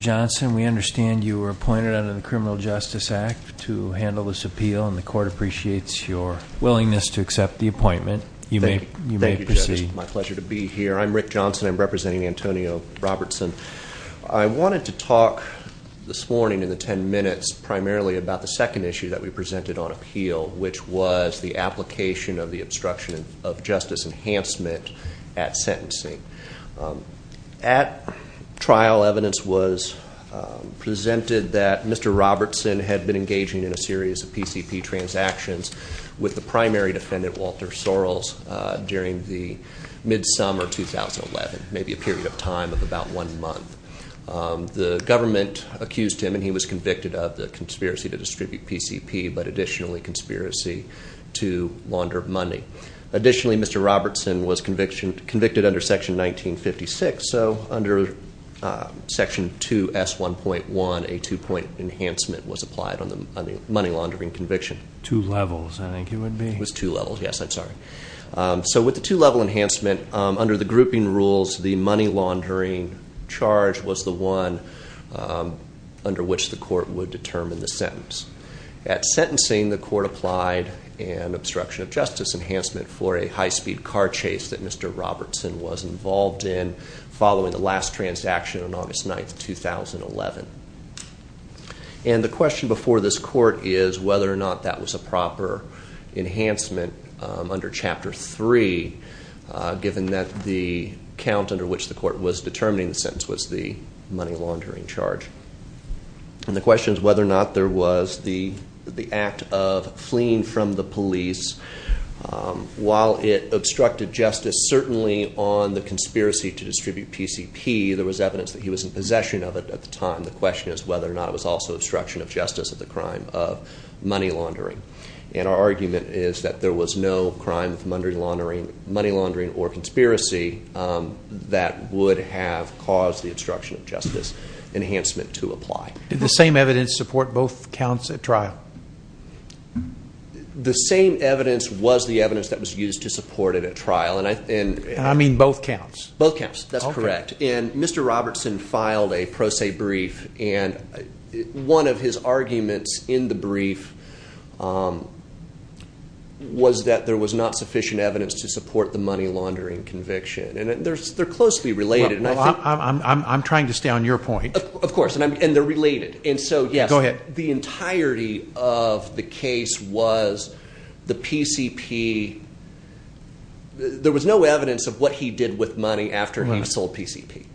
Rick Johnson, we understand you were appointed under the Criminal Justice Act to handle this appeal, and the court appreciates your willingness to accept the appointment. You may proceed. Thank you, Judge, it's my pleasure to be here. I'm Rick Johnson, I'm representing Antonio Robertson. I wanted to talk this morning in the ten minutes primarily about the second issue that we presented on appeal, which was the application of the obstruction of justice enhancement at sentencing. At trial, evidence was presented that Mr. Robertson had been engaging in a series of PCP transactions with the primary defendant, Walter Sorrells, during the mid-summer of 2011, maybe a period of time of about one month. The government accused him, and he was convicted of the conspiracy to distribute PCP, but additionally conspiracy to launder money. Additionally, Mr. Robertson was convicted under Section 1956, so under Section 2S1.1, a two-point enhancement was applied on the money laundering conviction. Two levels, I think it would be. It was two levels, yes, I'm sorry. So with the two-level enhancement, under the grouping rules, the money laundering charge was the one under which the court would determine the sentence. At sentencing, the court applied an obstruction of justice enhancement for a high-speed car chase that Mr. Robertson was involved in following the last transaction on August 9, 2011. And the question before this court is whether or not that was a proper enhancement under Chapter 3, given that the count under which the court was determining the sentence was the money laundering charge. And the question is whether or not there was the act of fleeing from the police. While it obstructed justice, certainly on the conspiracy to distribute PCP, there was evidence that he was in possession of it at the time. The question is whether or not it was also obstruction of justice of the crime of money laundering. And our argument is that there was no crime of money laundering or conspiracy that would have caused the obstruction of justice enhancement to apply. Did the same evidence support both counts at trial? The same evidence was the evidence that was used to support it at trial. And I mean both counts? Both counts, that's correct. And Mr. Robertson filed a pro se brief and one of his arguments in the brief was that there was not sufficient evidence to support the money laundering conviction. And they're closely related. I'm trying to stay on your point. Of course, and they're related. Go ahead. The entirety of the case was the PCP. There was no evidence of what he did with money after he sold PCP.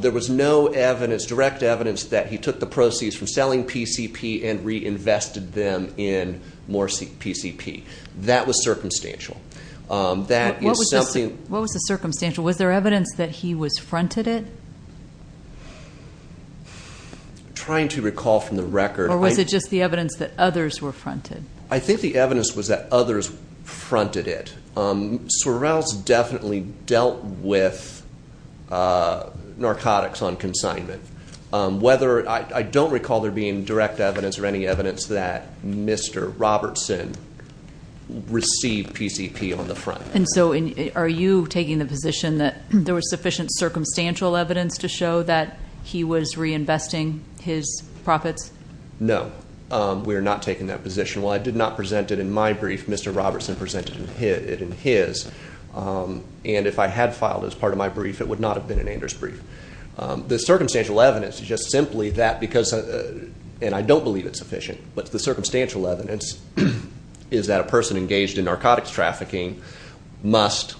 There was no direct evidence that he took the proceeds from selling PCP and reinvested them in more PCP. That was circumstantial. What was the circumstantial? Was there evidence that he was fronted it? I'm trying to recall from the record. Or was it just the evidence that others were fronted? I think the evidence was that others fronted it. Sorrell's definitely dealt with narcotics on consignment. I don't recall there being direct evidence or any evidence that Mr. Robertson received PCP on the front. And so are you taking the position that there was sufficient circumstantial evidence to show that he was reinvesting his profits? No. We are not taking that position. While I did not present it in my brief, Mr. Robertson presented it in his. And if I had filed as part of my brief, it would not have been in Anders' brief. The circumstantial evidence is just simply that because, and I don't believe it's sufficient, but the circumstantial evidence is that a person engaged in narcotics trafficking must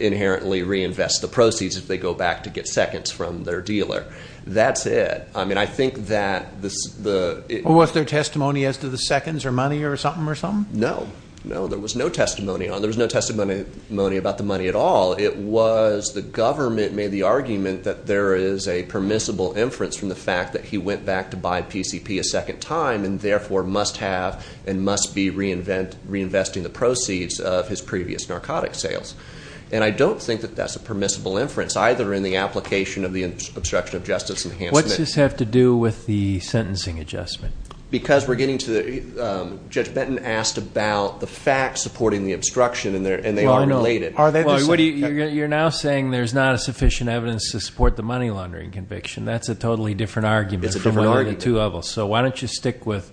inherently reinvest the proceeds if they go back to get seconds from their dealer. That's it. I think that the Was there testimony as to the seconds or money or something? No. No, there was no testimony. There was no testimony about the money at all. It was the government made the argument that there is a permissible inference from the fact that he went back to buy PCP a second time and therefore must have and must be reinvesting the proceeds of his previous narcotics sales. And I don't think that that's a permissible inference either in the application of the obstruction of justice enhancement. What's this have to do with the sentencing adjustment? Because we're getting to the, Judge Benton asked about the facts supporting the obstruction and they are related. You're now saying there's not a sufficient evidence to support the money laundering conviction. That's a totally different argument. It's a different argument. So why don't you stick with,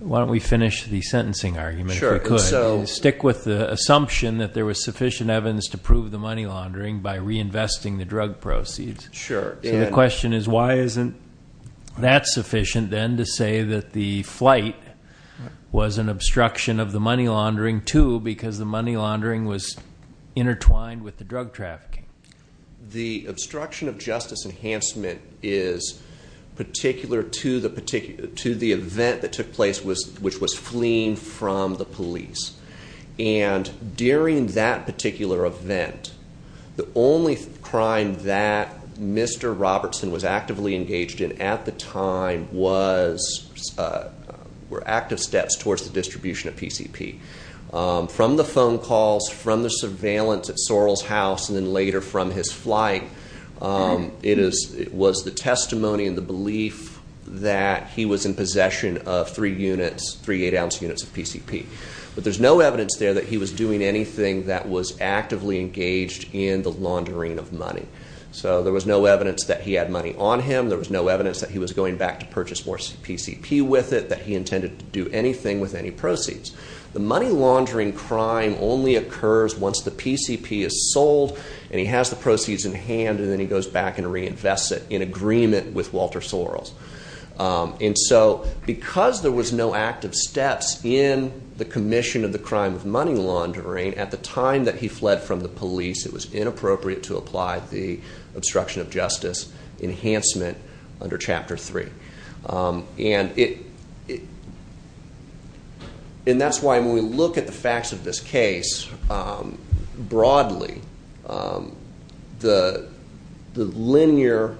why don't we finish the sentencing argument if we could. Stick with the assumption that there was sufficient evidence to prove the money laundering by reinvesting the drug proceeds. Sure. So the question is why isn't that sufficient then to say that the flight was an obstruction of the money laundering too because the money laundering was intertwined with the drug trafficking. The obstruction of justice enhancement is particular to the event that took place which was fleeing from the police. And during that particular event, the only crime that Mr. Robertson was actively engaged in at the time was, were active steps towards the distribution of PCP. From the phone calls, from the surveillance at Sorrell's house and then later from his flight, it was the testimony and the belief that he was in possession of three units, three eight ounce units of PCP. But there's no evidence there that he was doing anything that was actively engaged in the laundering of money. So there was no evidence that he had money on him. There was no evidence that he was going back to purchase more PCP with it, that he intended to do anything with any proceeds. The money laundering crime only occurs once the PCP is sold and he has the proceeds in hand and then he goes back and reinvests it in agreement with Walter Sorrells. And so because there was no active steps in the commission of the crime of money laundering, at the time that he fled from the police, it was inappropriate to apply the obstruction of justice enhancement under chapter three. And it, and that's why when we look at the facts of this case broadly, the linear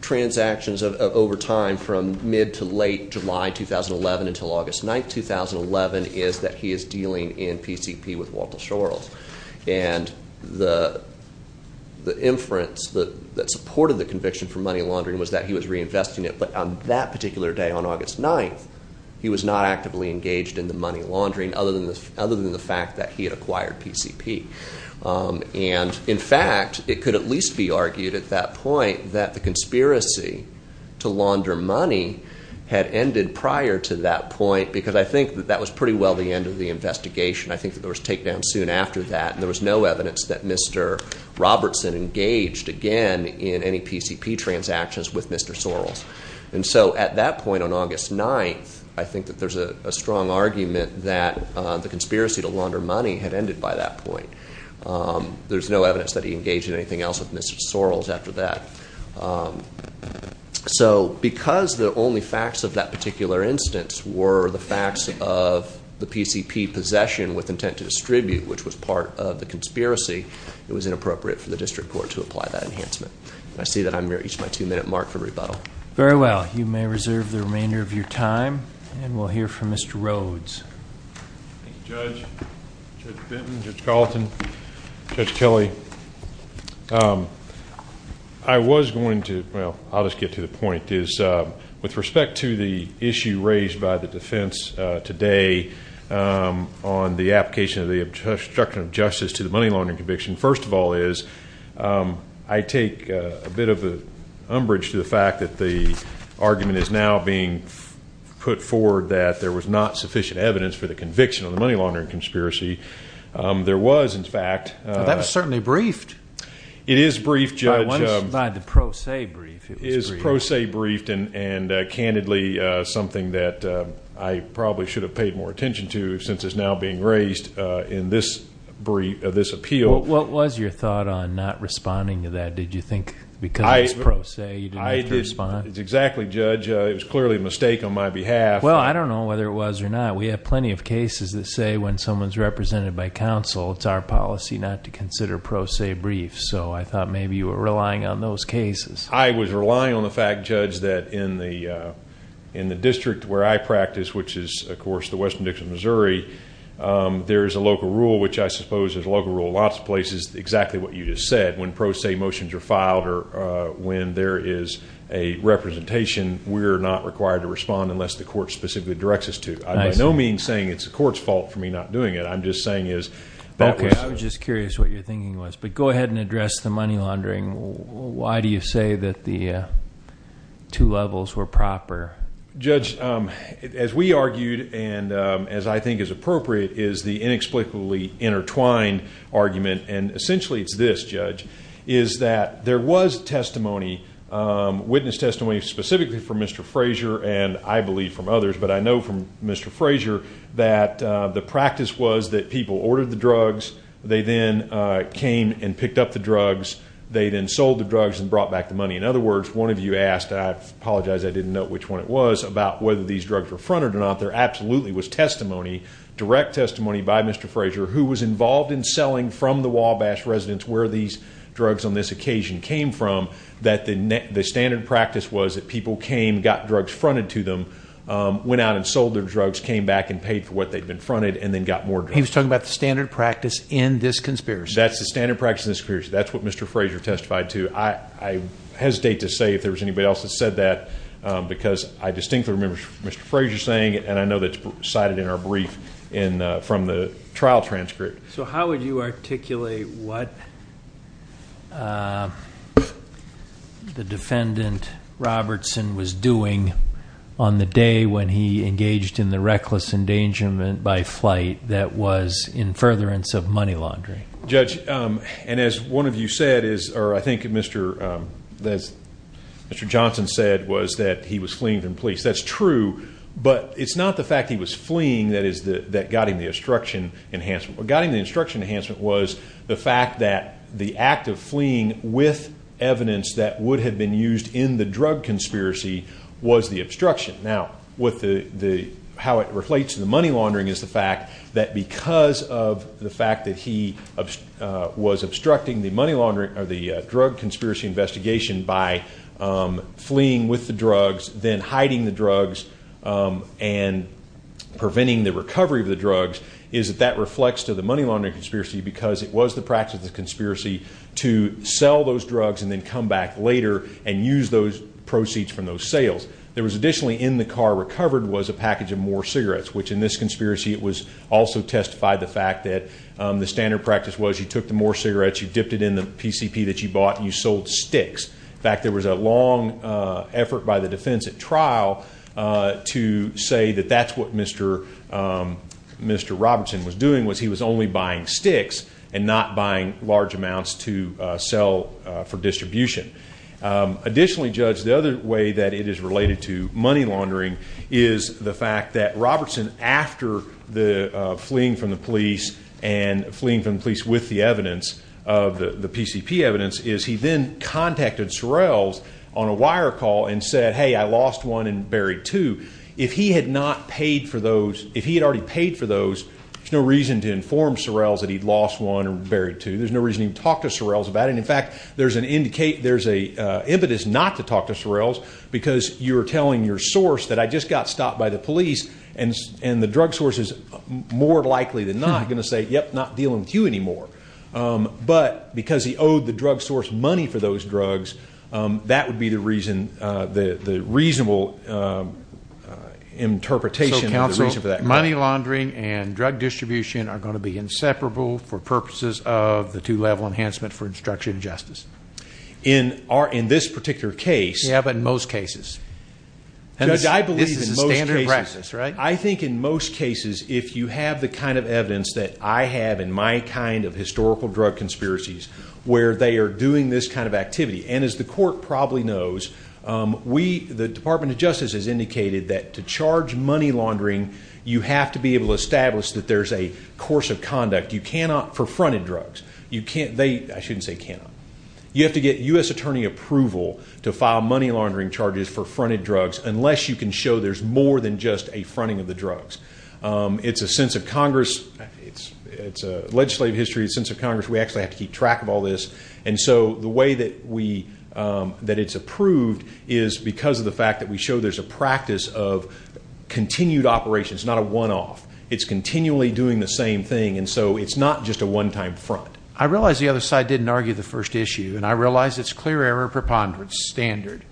transactions over time from mid to late July 2011 until August 9, 2011 is that he is dealing in PCP with Walter Sorrells. And the inference that supported the conviction for money laundering was that he was reinvesting it. But on that particular day on August 9, he was not actively engaged in the money laundering other than the fact that he had acquired PCP. And in fact, it could at least be argued at that point that the conspiracy to launder money had ended prior to that point because I think that that was pretty well the end of the investigation. I think that there was a takedown soon after that and there was no evidence that Mr. Robertson engaged again in any PCP transactions with Mr. Sorrells. And so at that point on August 9, I think that there's a strong argument that the conspiracy to launder money had ended by that point. There's no evidence that he engaged in anything else with Mr. Sorrells after that. So because the only facts of that particular instance were the facts of the PCP possession with intent to distribute, which was part of the conspiracy, it was inappropriate for the district court to apply that enhancement. And I see that I've reached my two-minute mark for rebuttal. Very well. You may reserve the remainder of your time and we'll hear from Mr. Rhodes. Thank you, Judge. Judge Benton, Judge Carlton, Judge Kelly, I was going to – well, I'll just get to the point. With respect to the issue raised by the defense today on the application of the obstruction of justice to the money laundering conviction, first of all is I take a bit of the umbrage to the fact that the argument is now being put forward that there was not sufficient evidence for the conviction of the money laundering conspiracy. There was, in fact – That was certainly briefed. It is briefed, Judge. By the pro se brief. It is pro se briefed and candidly something that I probably should have paid more attention to since it's now being raised in this appeal. What was your thought on not responding to that? Did you think because it's pro se you didn't have to respond? Exactly, Judge. It was clearly a mistake on my behalf. Well, I don't know whether it was or not. We have plenty of cases that say when someone's represented by counsel it's our policy not to consider pro se briefs. So I thought maybe you were relying on those cases. I was relying on the fact, Judge, that in the district where I practice, which is, of course, the Western Dixie, Missouri, there is a local rule, which I suppose is a local rule in lots of places, exactly what you just said. When pro se motions are filed or when there is a representation, we are not required to respond unless the court specifically directs us to. I'm by no means saying it's the court's fault for me not doing it. I'm just saying that was – Okay. I was just curious what your thinking was. But go ahead and address the money laundering. Why do you say that the two levels were proper? Judge, as we argued and as I think is appropriate, is the inexplicably intertwined argument, and essentially it's this, Judge, is that there was testimony, witness testimony specifically from Mr. Frazier and I believe from others, but I know from Mr. Frazier that the practice was that people ordered the drugs. They then came and picked up the drugs. They then sold the drugs and brought back the money. In other words, one of you asked, and I apologize I didn't know which one it was, about whether these drugs were fronted or not. There absolutely was testimony, direct testimony by Mr. Frazier, who was involved in selling from the Wabash residence where these drugs on this occasion came from, that the standard practice was that people came, got drugs fronted to them, went out and sold their drugs, came back and paid for what they'd been fronted and then got more drugs. He was talking about the standard practice in this conspiracy. That's the standard practice in this conspiracy. That's what Mr. Frazier testified to. I hesitate to say if there was anybody else that said that because I distinctly remember Mr. Frazier saying it, and I know that's cited in our brief from the trial transcript. So how would you articulate what the defendant, Robertson, was doing on the day when he engaged in the reckless endangerment by flight that was in furtherance of money laundering? Judge, and as one of you said, or I think Mr. Johnson said, was that he was fleeing from police. That's true, but it's not the fact he was fleeing that got him the obstruction enhancement. What got him the obstruction enhancement was the fact that the act of fleeing with evidence that would have been used in the drug conspiracy was the obstruction. Now, how it relates to the money laundering is the fact that because of the fact that he was obstructing the money laundering or the drug conspiracy investigation by fleeing with the drugs, then hiding the drugs and preventing the recovery of the drugs, is that that reflects to the money laundering conspiracy because it was the practice of the conspiracy to sell those drugs and then come back later and use those proceeds from those sales. There was additionally in the car recovered was a package of more cigarettes, which in this conspiracy it was also testified the fact that the standard practice was you took the more cigarettes, you dipped it in the PCP that you bought, and you sold sticks. In fact, there was a long effort by the defense at trial to say that that's what Mr. Robertson was doing, was he was only buying sticks and not buying large amounts to sell for distribution. Additionally, Judge, the other way that it is related to money laundering is the fact that Robertson, after fleeing from the police and fleeing from the police with the evidence, the PCP evidence, is he then contacted Sorrells on a wire call and said, hey, I lost one and buried two. If he had already paid for those, there's no reason to inform Sorrells that he'd lost one and buried two. There's no reason to even talk to Sorrells about it. In fact, there's an impetus not to talk to Sorrells because you're telling your source that I just got stopped by the police and the drug source is more likely than not going to say, yep, not dealing with you anymore. But because he owed the drug source money for those drugs, that would be the reasonable interpretation of the reason for that call. Judge, money laundering and drug distribution are going to be inseparable for purposes of the two-level enhancement for instruction and justice. In this particular case- Yeah, but in most cases. Judge, I believe in most cases- This is a standard practice, right? I think in most cases, if you have the kind of evidence that I have in my kind of historical drug conspiracies, where they are doing this kind of activity, and as the court probably knows, the Department of Justice has indicated that to charge money laundering, you have to be able to establish that there's a course of conduct. You cannot for fronted drugs. I shouldn't say cannot. You have to get U.S. attorney approval to file money laundering charges for fronted drugs unless you can show there's more than just a fronting of the drugs. It's a legislative history, it's a sense of Congress. We actually have to keep track of all this. And so the way that it's approved is because of the fact that we show there's a practice of continued operations, not a one-off. It's continually doing the same thing. And so it's not just a one-time front. I realize the other side didn't argue the first issue, and I realize it's clear error preponderance standard.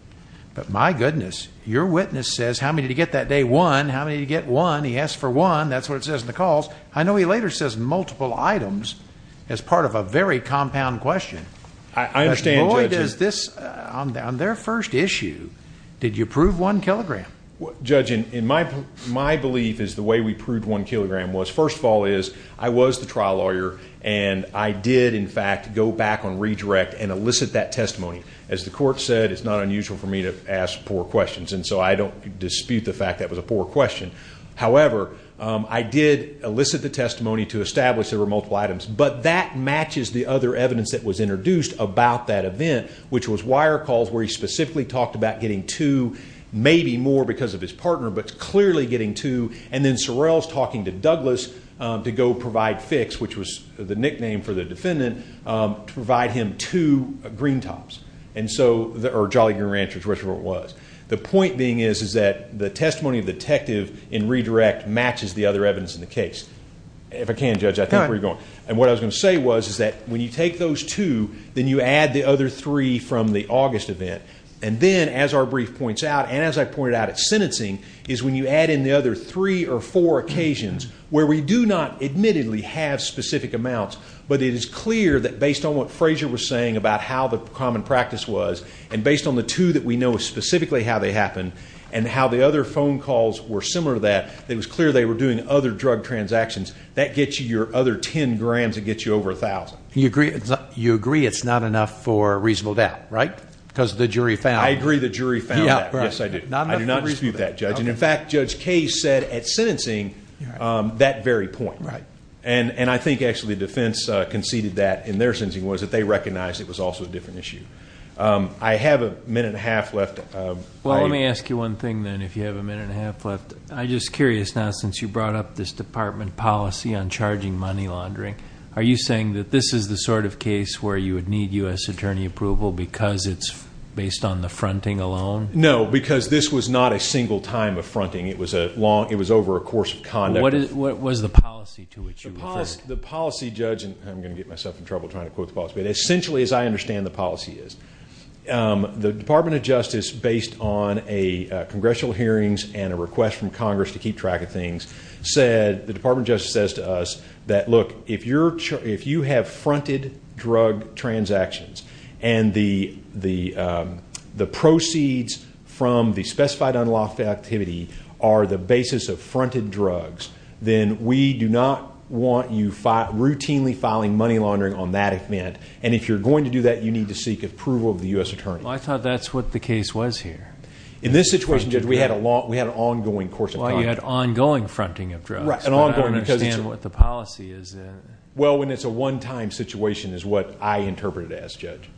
But my goodness, your witness says, how many did he get that day? One. How many did he get? One. He asked for one. That's what it says in the calls. I know he later says multiple items as part of a very compound question. I understand, Judge. On their first issue, did you prove one kilogram? Judge, my belief is the way we proved one kilogram was, first of all, is I was the trial lawyer, and I did, in fact, go back on redirect and elicit that testimony. As the court said, it's not unusual for me to ask poor questions, and so I don't dispute the fact that was a poor question. However, I did elicit the testimony to establish there were multiple items. But that matches the other evidence that was introduced about that event, which was wire calls where he specifically talked about getting two, maybe more because of his partner, but clearly getting two, and then Sorrell's talking to Douglas to go provide Fix, which was the nickname for the defendant, to provide him two green tops, or Jolly Green Ranchers, or whatever it was. The point being is that the testimony of the detective in redirect matches the other evidence in the case. If I can, Judge, I think we're going. And what I was going to say was that when you take those two, then you add the other three from the August event. And then, as our brief points out, and as I pointed out at sentencing, is when you add in the other three or four occasions where we do not admittedly have specific amounts, but it is clear that based on what Frazier was saying about how the common practice was and based on the two that we know specifically how they happened and how the other phone calls were similar to that, it was clear they were doing other drug transactions. That gets you your other 10 grams. It gets you over 1,000. You agree it's not enough for reasonable doubt, right? Because the jury found that. I agree the jury found that. Yes, I do. I do not dispute that, Judge. In fact, Judge Case said at sentencing that very point. Right. And I think actually defense conceded that in their sentencing was that they recognized it was also a different issue. I have a minute and a half left. Well, let me ask you one thing then if you have a minute and a half left. I'm just curious now, since you brought up this department policy on charging money laundering, are you saying that this is the sort of case where you would need U.S. attorney approval because it's based on the fronting alone? No, because this was not a single time of fronting. It was over a course of conduct. What was the policy to which you referred? The policy, Judge, and I'm going to get myself in trouble trying to quote the policy, but essentially as I understand the policy is, the Department of Justice, based on a congressional hearings and a request from Congress to keep track of things, said, the Department of Justice says to us that, look, if you have fronted drug transactions and the proceeds from the specified unlawful activity are the basis of fronted drugs, then we do not want you routinely filing money laundering on that event. And if you're going to do that, you need to seek approval of the U.S. attorney. Well, I thought that's what the case was here. In this situation, Judge, we had an ongoing course of conduct. Well, you had ongoing fronting of drugs. I don't understand what the policy is. Well, when it's a one-time situation is what I interpret it as, Judge.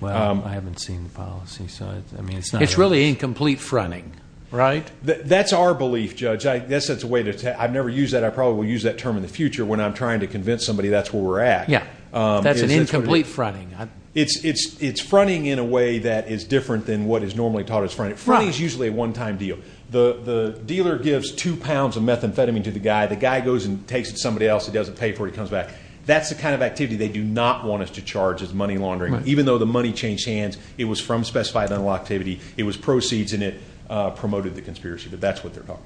Well, I haven't seen the policy. It's really incomplete fronting, right? That's our belief, Judge. I've never used that. I probably will use that term in the future when I'm trying to convince somebody that's where we're at. Yeah, that's an incomplete fronting. It's fronting in a way that is different than what is normally taught as fronting. Fronting is usually a one-time deal. The dealer gives two pounds of methamphetamine to the guy. The guy goes and takes it to somebody else. He doesn't pay for it. He comes back. That's the kind of activity they do not want us to charge as money laundering, even though the money changed hands. It was from specified unlawful activity. It was proceeds, and it promoted the conspiracy. But that's what they're talking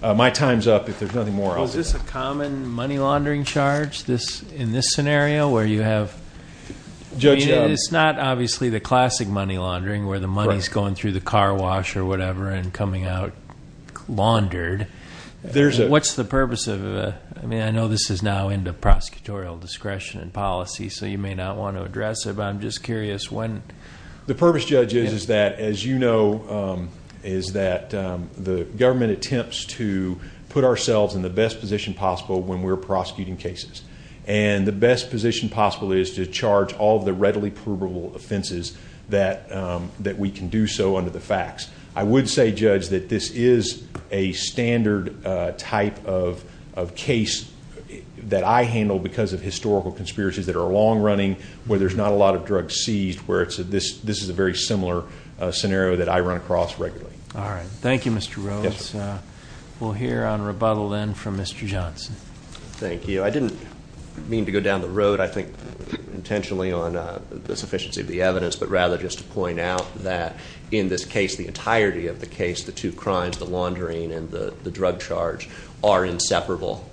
about. My time's up. If there's nothing more, I'll get back to you. Is this a common money laundering charge in this scenario where you have— It's not obviously the classic money laundering where the money is going through the car wash or whatever and coming out laundered. What's the purpose of—I mean, I know this is now into prosecutorial discretion and policy, so you may not want to address it. But I'm just curious when— The purpose, Judge, is that, as you know, is that the government attempts to put ourselves in the best position possible when we're prosecuting cases. And the best position possible is to charge all the readily provable offenses that we can do so under the facts. I would say, Judge, that this is a standard type of case that I handle because of historical conspiracies that are long running where there's not a lot of drugs seized, where this is a very similar scenario that I run across regularly. All right. Thank you, Mr. Rhodes. We'll hear on rebuttal then from Mr. Johnson. Thank you. I didn't mean to go down the road, I think, intentionally on the sufficiency of the evidence, but rather just to point out that in this case, the entirety of the case, the two crimes, the laundering and the drug charge, are inseparable.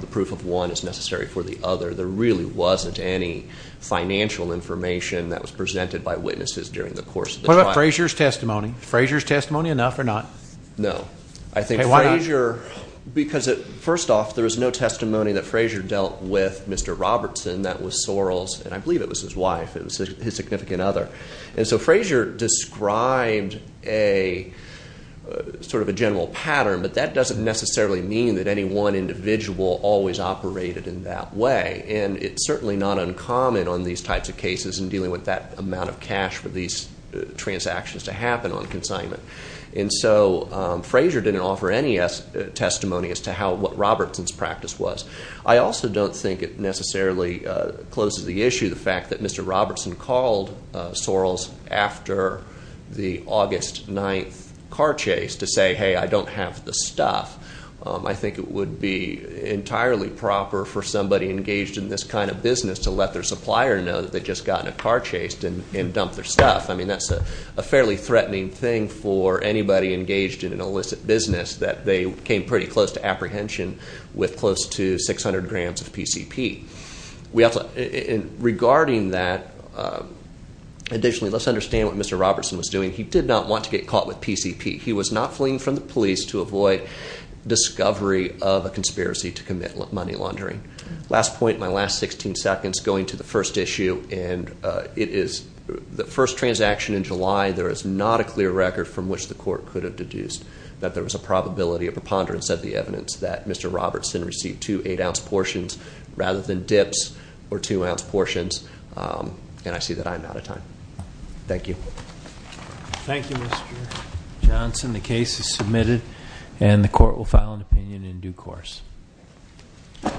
The proof of one is necessary for the other. There really wasn't any financial information that was presented by witnesses during the course of the trial. What about Frazier's testimony? Is Frazier's testimony enough or not? No. I think Frazier— Why not? Because, first off, there was no testimony that Frazier dealt with Mr. Robertson. That was Sorrell's, and I believe it was his wife, his significant other. And so Frazier described a sort of a general pattern, but that doesn't necessarily mean that any one individual always operated in that way. And it's certainly not uncommon on these types of cases in dealing with that amount of cash for these transactions to happen on consignment. And so Frazier didn't offer any testimony as to what Robertson's practice was. I also don't think it necessarily closes the issue, the fact that Mr. Robertson called Sorrell's after the August 9th car chase to say, hey, I don't have the stuff. I think it would be entirely proper for somebody engaged in this kind of business to let their supplier know that they'd just gotten a car chase and dump their stuff. I mean, that's a fairly threatening thing for anybody engaged in an illicit business, that they came pretty close to apprehension with close to 600 grams of PCP. Regarding that, additionally, let's understand what Mr. Robertson was doing. He did not want to get caught with PCP. He was not fleeing from the police to avoid discovery of a conspiracy to commit money laundering. Last point, my last 16 seconds going to the first issue, and it is the first transaction in July. There is not a clear record from which the court could have deduced that there was a probability of preponderance of the evidence that Mr. Robertson received two eight ounce portions rather than dips or two ounce portions. And I see that I'm out of time. Thank you. Thank you, Mr. Johnson. The case is submitted and the court will file an opinion in due course. Thank you.